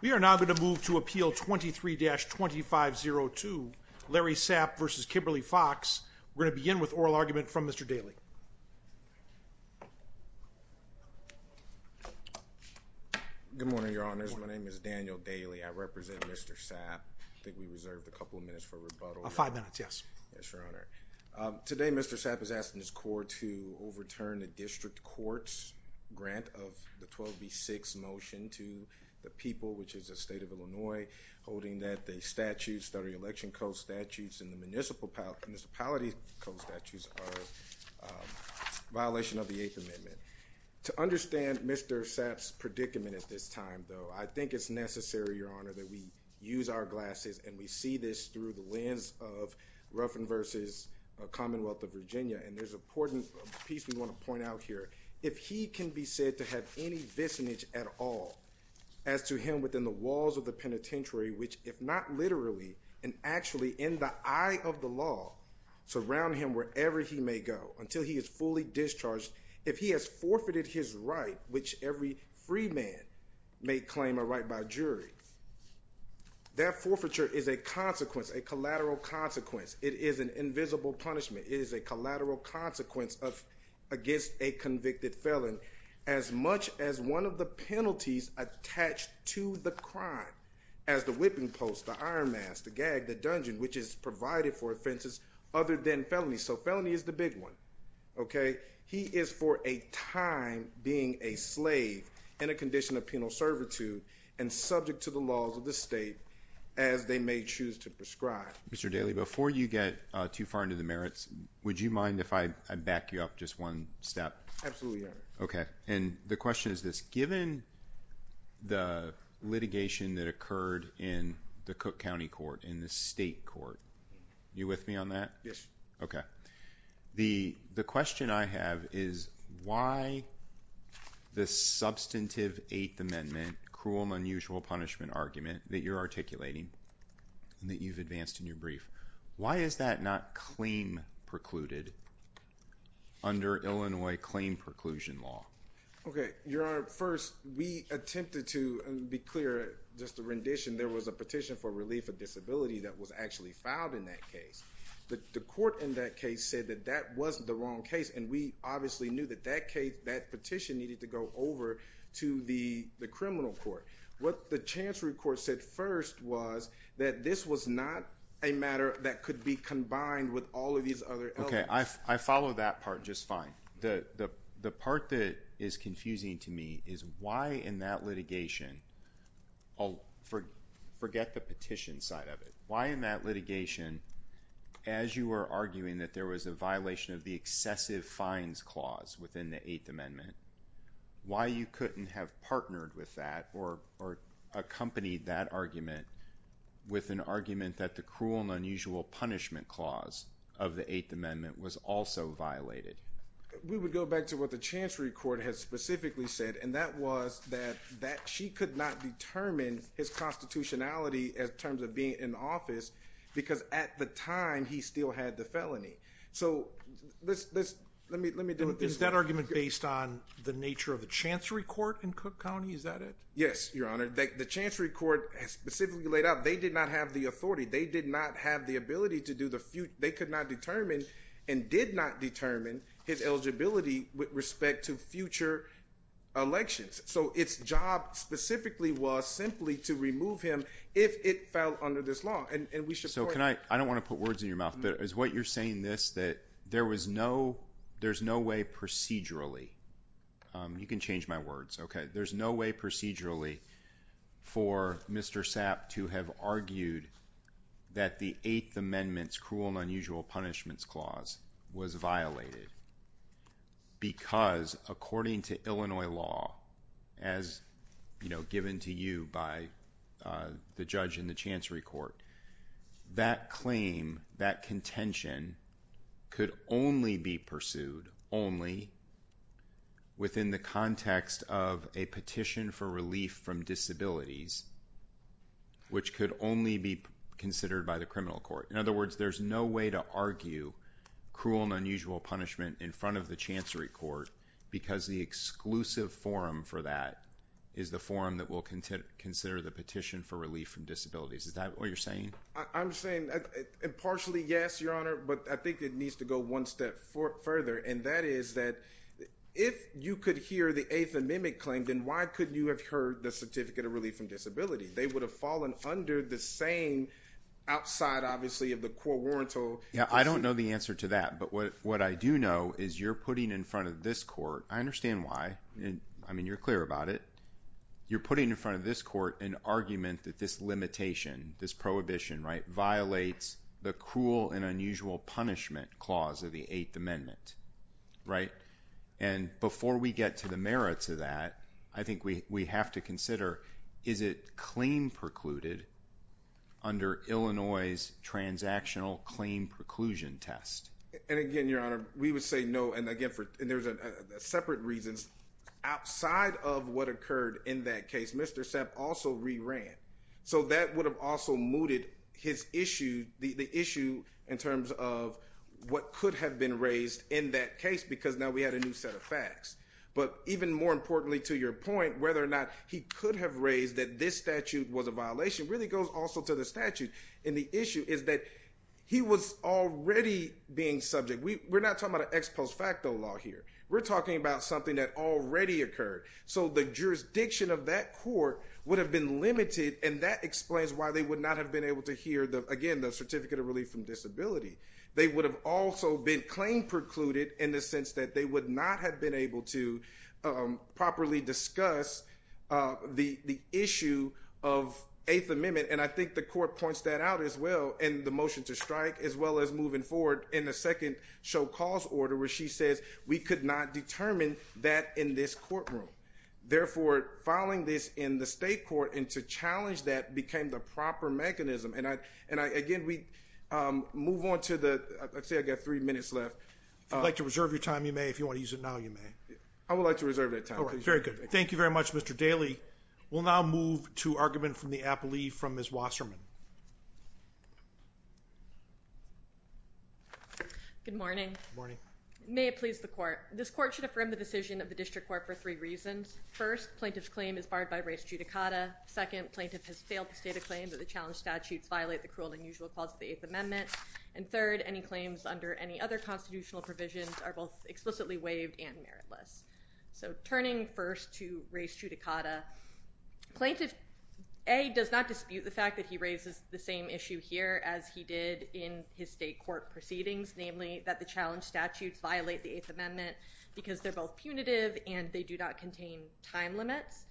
We are now going to move to Appeal 23-2502, Larry Sapp v. Kimberly Foxx. We're going to begin with oral argument from Mr. Daley. Good morning, your honors. My name is Daniel Daley. I represent Mr. Sapp. I think we reserved a couple of minutes for rebuttal. Five minutes, yes. Yes, your honor. Today, Mr. Sapp is asking his court to overturn the district court's grant of the 12B-6 motion to the people, which is the state of Illinois, holding that the statutes that are election co-statutes and the municipality co-statutes are a violation of the Eighth Amendment. To understand Mr. Sapp's predicament at this time, though, I think it's necessary, your honor, that we use our glasses and we see this through the lens of Ruffin v. Commonwealth of Virginia. And there's an important piece we want to point out here. If he can be said to have any visinage at all as to him within the walls of the penitentiary, which, if not literally and actually in the eye of the law, surround him wherever he may go until he is fully discharged, if he has forfeited his right, which every free man may claim a right by jury, that forfeiture is a consequence, a collateral consequence. It is an invisible punishment. It is a collateral consequence against a convicted felon as much as one of the penalties attached to the crime as the whipping post, the iron mask, the gag, the dungeon, which is provided for offenses other than felony. So felony is the big one, okay? He is for a time being a slave in a condition of penal servitude and subject to the laws of the state as they may choose to prescribe. Mr. Daly, before you get too far into the merits, would you mind if I back you up just one step? Absolutely, Your Honor. Okay. And the question is this. Given the litigation that occurred in the Cook County Court, in the state court, you with me on that? Yes. Okay. The question I have is why the substantive Eighth Amendment cruel and unusual punishment argument that you're articulating and that you've advanced in your brief, why is that not claim precluded under Illinois claim preclusion law? Okay. Your Honor, first, we attempted to, and to be clear, just a rendition, there was a petition for relief of disability that was actually filed in that case. The court in that case said that that wasn't the wrong case, and we obviously knew that that case, that petition needed to go over to the criminal court. What the chancery court said first was that this was not a matter that could be combined with all of these other elements. Okay. I follow that part just fine. The part that is confusing to me is why in that litigation, forget the petition side of it, why in that litigation, as you were arguing that there was a violation of the excessive fines clause within the Eighth Amendment, why you couldn't have partnered with that or accompanied that argument with an argument that the cruel and unusual punishment clause of the Eighth Amendment was also violated? We would go back to what the chancery court has specifically said, and that was that she could not determine his constitutionality in terms of being in office because at the time, he still had the felony. So, let me do it this way. Is that argument based on the nature of the chancery court in Cook County? Is that it? Yes, Your Honor. The chancery court has specifically laid out they did not have the authority. They did not have the ability to do the future. They could not determine and did not determine his eligibility with respect to future elections. So, its job specifically was simply to remove him if it fell under this law. And we support that. So, can I – I don't want to put words in your mouth, but is what you're saying this that there was no – there's no way procedurally – you can change my words, okay? There's no way procedurally for Mr. Sapp to have argued that the Eighth Amendment's cruel and unusual punishment clause was violated because according to Illinois law as, you know, given to you by the judge in the chancery court, that claim, that contention could only be pursued only within the context of a petition for relief from disabilities which could only be considered by the criminal court. In other words, there's no way to argue cruel and unusual punishment in front of the chancery court because the exclusive forum for that is the forum that will consider the petition for relief from disabilities. Is that what you're saying? I'm saying – and partially yes, Your Honor, but I think it needs to go one step further. And that is that if you could hear the Eighth Amendment claim, then why couldn't you have heard the Certificate of Relief from Disability? They would have fallen under the same – outside, obviously, of the court warrant. Yeah, I don't know the answer to that. But what I do know is you're putting in front of this court – I understand why. I mean, you're clear about it. You're putting in front of this court an argument that this limitation, this prohibition, right, violates the cruel and unusual punishment clause of the Eighth Amendment, right? And before we get to the merits of that, I think we have to consider, is it claim precluded under Illinois' transactional claim preclusion test? And again, Your Honor, we would say no, and again for – and there's separate reasons. Outside of what occurred in that case, Mr. Sepp also re-ran. So that would have also mooted his issue, the issue in terms of what could have been raised in that case because now we had a new set of facts. But even more importantly, to your point, whether or not he could have raised that this statute was a violation really goes also to the statute. And the issue is that he was already being subject. We're not talking about an ex post facto law here. We're talking about something that already occurred. So the jurisdiction of that court would have been limited, and that explains why they would not have been able to hear, again, the Certificate of Relief from Disability. They would have also been claim precluded in the sense that they would not have been able to properly discuss the issue of Eighth Amendment. And I think the court points that out as well in the motion to strike as well as moving forward in the second show cause order where she says we could not determine that in this courtroom. Therefore, filing this in the state court and to challenge that became the proper mechanism. And, again, we move on to the – let's see, I've got three minutes left. If you'd like to reserve your time, you may. If you want to use it now, you may. I would like to reserve that time. Okay, very good. Thank you very much, Mr. Daly. We'll now move to argument from the appellee from Ms. Wasserman. Good morning. Good morning. May it please the court. This court should affirm the decision of the district court for three reasons. First, plaintiff's claim is barred by res judicata. Second, plaintiff has failed to state a claim that the challenged statutes violate the cruel and unusual clause of the Eighth Amendment. And third, any claims under any other constitutional provisions are both explicitly waived and meritless. So turning first to res judicata, plaintiff, A, does not dispute the fact that he raises the same issue here as he did in his state court proceedings, namely that the challenged statutes violate the Eighth Amendment because they're both punitive and they do not contain time limits.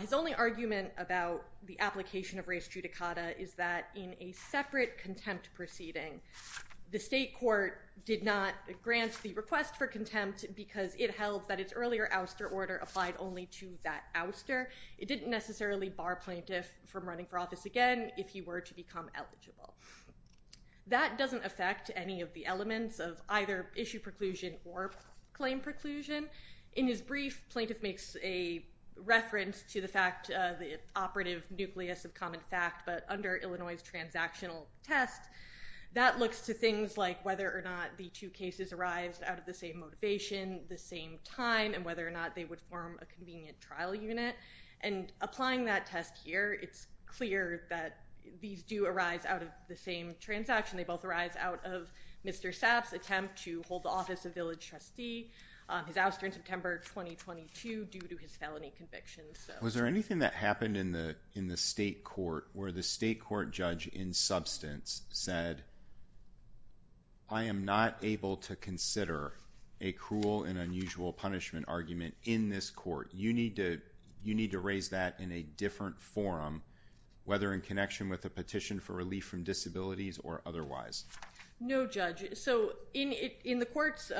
His only argument about the application of res judicata is that in a separate contempt proceeding, the state court did not grant the request for contempt because it held that its earlier ouster order applied only to that ouster. It didn't necessarily bar plaintiff from running for office again if he were to become eligible. That doesn't affect any of the elements of either issue preclusion or claim preclusion. In his brief, plaintiff makes a reference to the fact the operative nucleus of common fact, but under Illinois' transactional test, that looks to things like whether or not the two cases arise out of the same motivation, the same time, and whether or not they would form a convenient trial unit. And applying that test here, it's clear that these do arise out of the same transaction. They both arise out of Mr. Sapp's attempt to hold the office of village trustee. His ouster in September 2022 due to his felony convictions. Was there anything that happened in the state court where the state court judge in substance said, I am not able to consider a cruel and unusual punishment argument in this court. You need to raise that in a different forum, whether in connection with a petition for relief from disabilities or otherwise. No, judge. So in the court's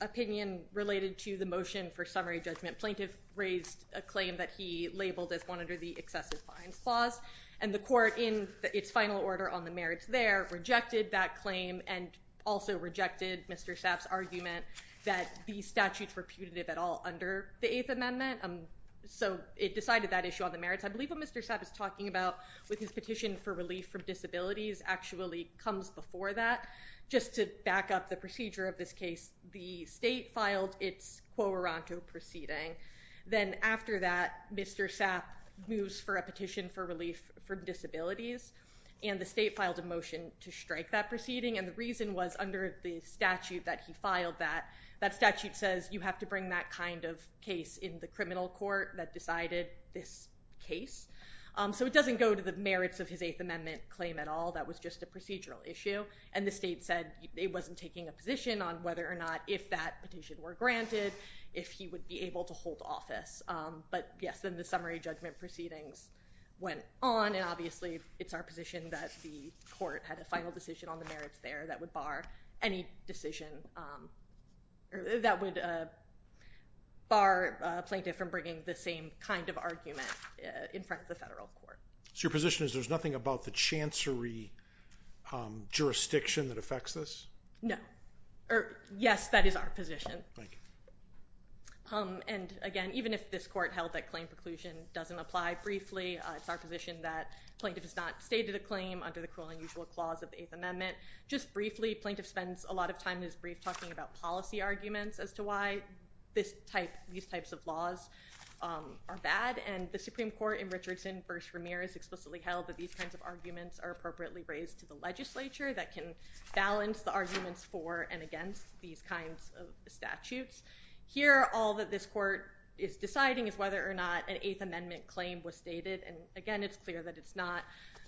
opinion related to the motion for summary judgment, plaintiff raised a claim that he labeled as one under the excessive fines clause. And the court in its final order on the merits there rejected that claim and also rejected Mr. Sapp's argument that these statutes were putative at all under the Eighth Amendment. So it decided that issue on the merits. I believe what Mr. Sapp is talking about with his petition for relief from disabilities actually comes before that. Just to back up the procedure of this case, the state filed its quo ronto proceeding. Then after that, Mr. Sapp moves for a petition for relief from disabilities and the state filed a motion to strike that proceeding. And the reason was under the statute that he filed that that statute says you have to bring that kind of case in the criminal court that decided this case. So it doesn't go to the merits of his Eighth Amendment claim at all. That was just a procedural issue. And the state said it wasn't taking a position on whether or not if that petition were granted, if he would be able to hold office. But yes, then the summary judgment proceedings went on. And obviously it's our position that the court had a final decision on the merits there that would bar any decision that would bar a plaintiff from bringing the same kind of argument in front of the federal court. So your position is there's nothing about the chancery jurisdiction that affects this? No. Yes, that is our position. And again, even if this court held that claim preclusion doesn't apply briefly, it's our position that plaintiff has not stated a claim under the cruel and unusual clause of the Eighth Amendment. Just briefly, plaintiff spends a lot of time in his brief talking about policy arguments as to why this type, these types of laws are bad. And the Supreme Court in Richardson v. Ramirez explicitly held that these kinds of arguments are appropriately raised to the legislature that can balance the arguments for and against these kinds of statutes. Here, all that this court is deciding is whether or not an Eighth Amendment claim was stated. And again, it's clear that it's not.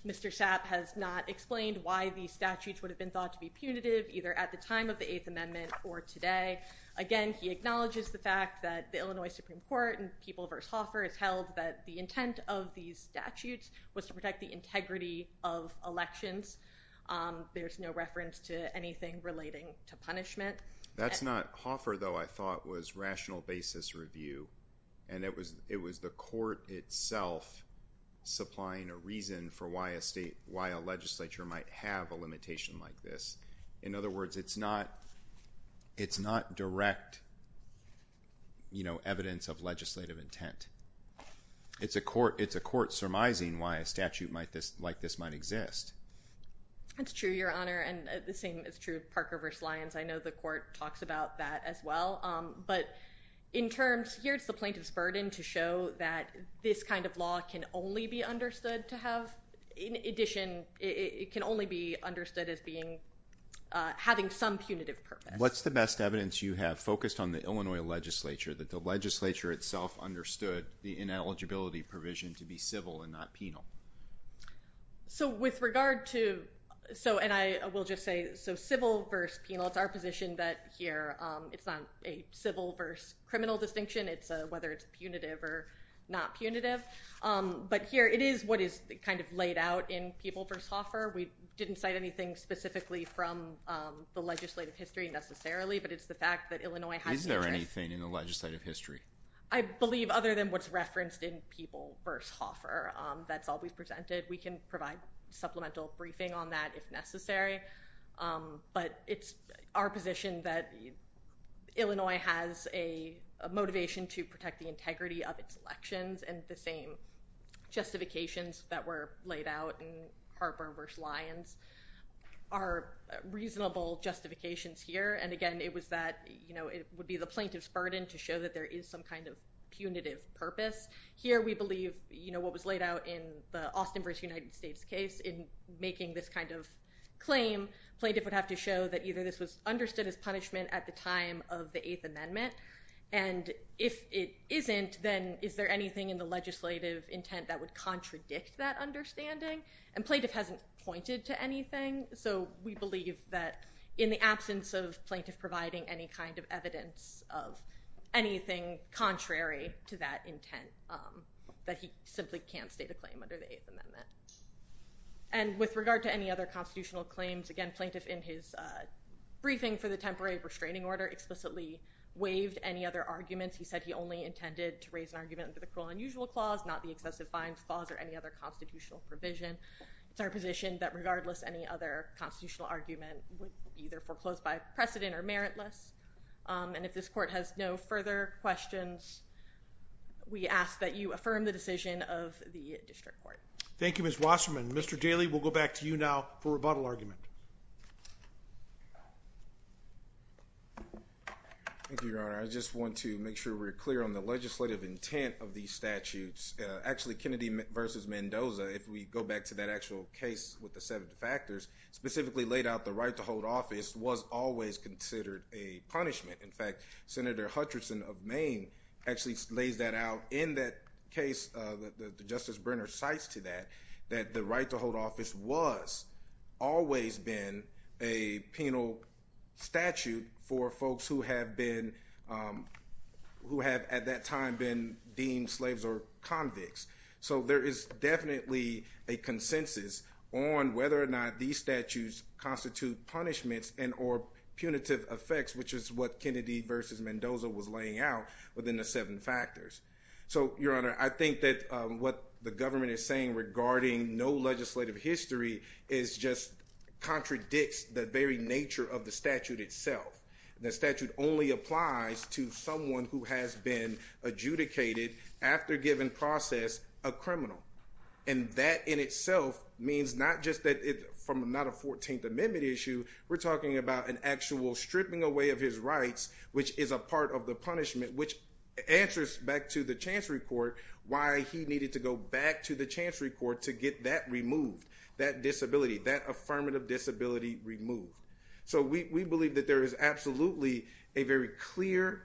Mr. Sapp has not explained why these statutes would have been thought to be punitive, either at the time of the Eighth Amendment or today. Again, he acknowledges the fact that the Illinois Supreme Court and People v. Hoffer has held that the intent of these statutes was to protect the integrity of elections. There's no reference to anything relating to punishment. That's not – Hoffer, though, I thought was rational basis review. And it was the court itself supplying a reason for why a legislature might have a limitation like this. In other words, it's not direct evidence of legislative intent. It's a court surmising why a statute like this might exist. That's true, Your Honor, and the same is true of Parker v. Lyons. I know the court talks about that as well. But in terms – here's the plaintiff's burden to show that this kind of law can only be understood to have – in addition, it can only be understood as being – having some punitive purpose. What's the best evidence you have focused on the Illinois legislature, that the legislature itself understood the ineligibility provision to be civil and not penal? So with regard to – so – and I will just say – so civil v. penal, it's our position that here it's not a civil v. criminal distinction. It's whether it's punitive or not punitive. But here it is what is kind of laid out in People v. Hoffer. We didn't cite anything specifically from the legislative history necessarily, but it's the fact that Illinois has – Is there anything in the legislative history? I believe other than what's referenced in People v. Hoffer, that's all we've presented. We can provide supplemental briefing on that if necessary. But it's our position that Illinois has a motivation to protect the integrity of its elections, and the same justifications that were laid out in Harper v. Lyons are reasonable justifications here. And again, it was that – it would be the plaintiff's burden to show that there is some kind of punitive purpose. Here we believe what was laid out in the Austin v. United States case in making this kind of claim, plaintiff would have to show that either this was understood as punishment at the time of the Eighth Amendment, and if it isn't, then is there anything in the legislative intent that would contradict that understanding? And plaintiff hasn't pointed to anything. So we believe that in the absence of plaintiff providing any kind of evidence of anything contrary to that intent, that he simply can't state a claim under the Eighth Amendment. And with regard to any other constitutional claims, again, plaintiff in his briefing for the temporary restraining order explicitly waived any other arguments. He said he only intended to raise an argument under the cruel and unusual clause, not the excessive fines clause or any other constitutional provision. It's our position that regardless any other constitutional argument would be either foreclosed by precedent or meritless. And if this court has no further questions, we ask that you affirm the decision of the district court. Thank you, Ms. Wasserman. Mr. Daley, we'll go back to you now for rebuttal argument. Thank you, Your Honor. I just want to make sure we're clear on the legislative intent of these statutes. Actually, Kennedy v. Mendoza, if we go back to that actual case with the seven defactors, specifically laid out the right to hold office was always considered a punishment. In fact, Senator Hutcherson of Maine actually lays that out in that case. Justice Brenner cites to that that the right to hold office was always been a penal statute for folks who have been who have at that time been deemed slaves or convicts. So there is definitely a consensus on whether or not these statutes constitute punishments and or punitive effects, which is what Kennedy v. Mendoza was laying out within the seven factors. So, Your Honor, I think that what the government is saying regarding no legislative history is just contradicts the very nature of the statute itself. The statute only applies to someone who has been adjudicated after given process a criminal. And that in itself means not just that it's from not a 14th Amendment issue. We're talking about an actual stripping away of his rights, which is a part of the punishment, which answers back to the chance report why he needed to go back to the chance report to get that removed, that disability, that affirmative disability removed. So we believe that there is absolutely a very clear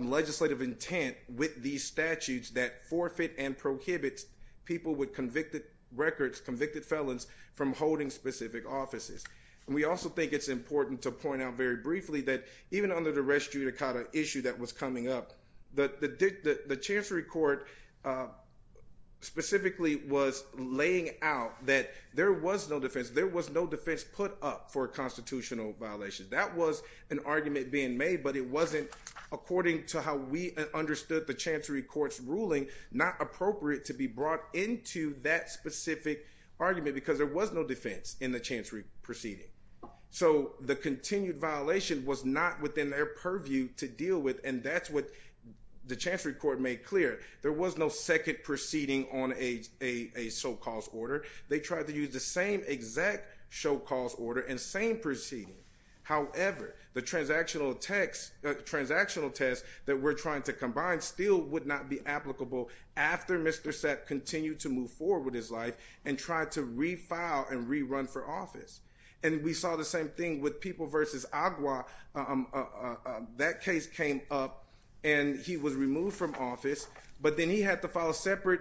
legislative intent with these statutes that forfeit and prohibits people with convicted records, convicted felons from holding specific offices. And we also think it's important to point out very briefly that even under the res judicata issue that was coming up, the chancery court specifically was laying out that there was no defense. There was no defense put up for a constitutional violation. That was an argument being made, but it wasn't, according to how we understood the chance records ruling, not appropriate to be brought into that specific argument because there was no defense in the chancery proceeding. So the continued violation was not within their purview to deal with, and that's what the chancery court made clear. There was no second proceeding on a so-called order. They tried to use the same exact so-called order and same proceeding. However, the transactional text, transactional test that we're trying to combine still would not be applicable after Mr. And we saw the same thing with people versus Agua. That case came up and he was removed from office. But then he had to file a separate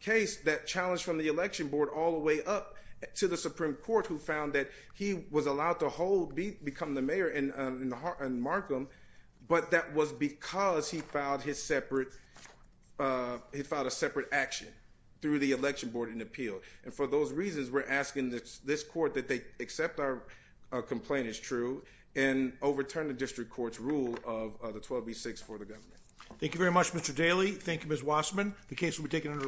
case that challenged from the election board all the way up to the Supreme Court, who found that he was allowed to hold become the mayor in Markham. But that was because he filed his separate he filed a separate action through the election board and appealed. And for those reasons, we're asking this court that they accept our complaint is true and overturn the district court's rule of the 12B6 for the government. Thank you very much, Mr. Daly. Thank you, Ms. Wasserman. The case will be taken under advisement.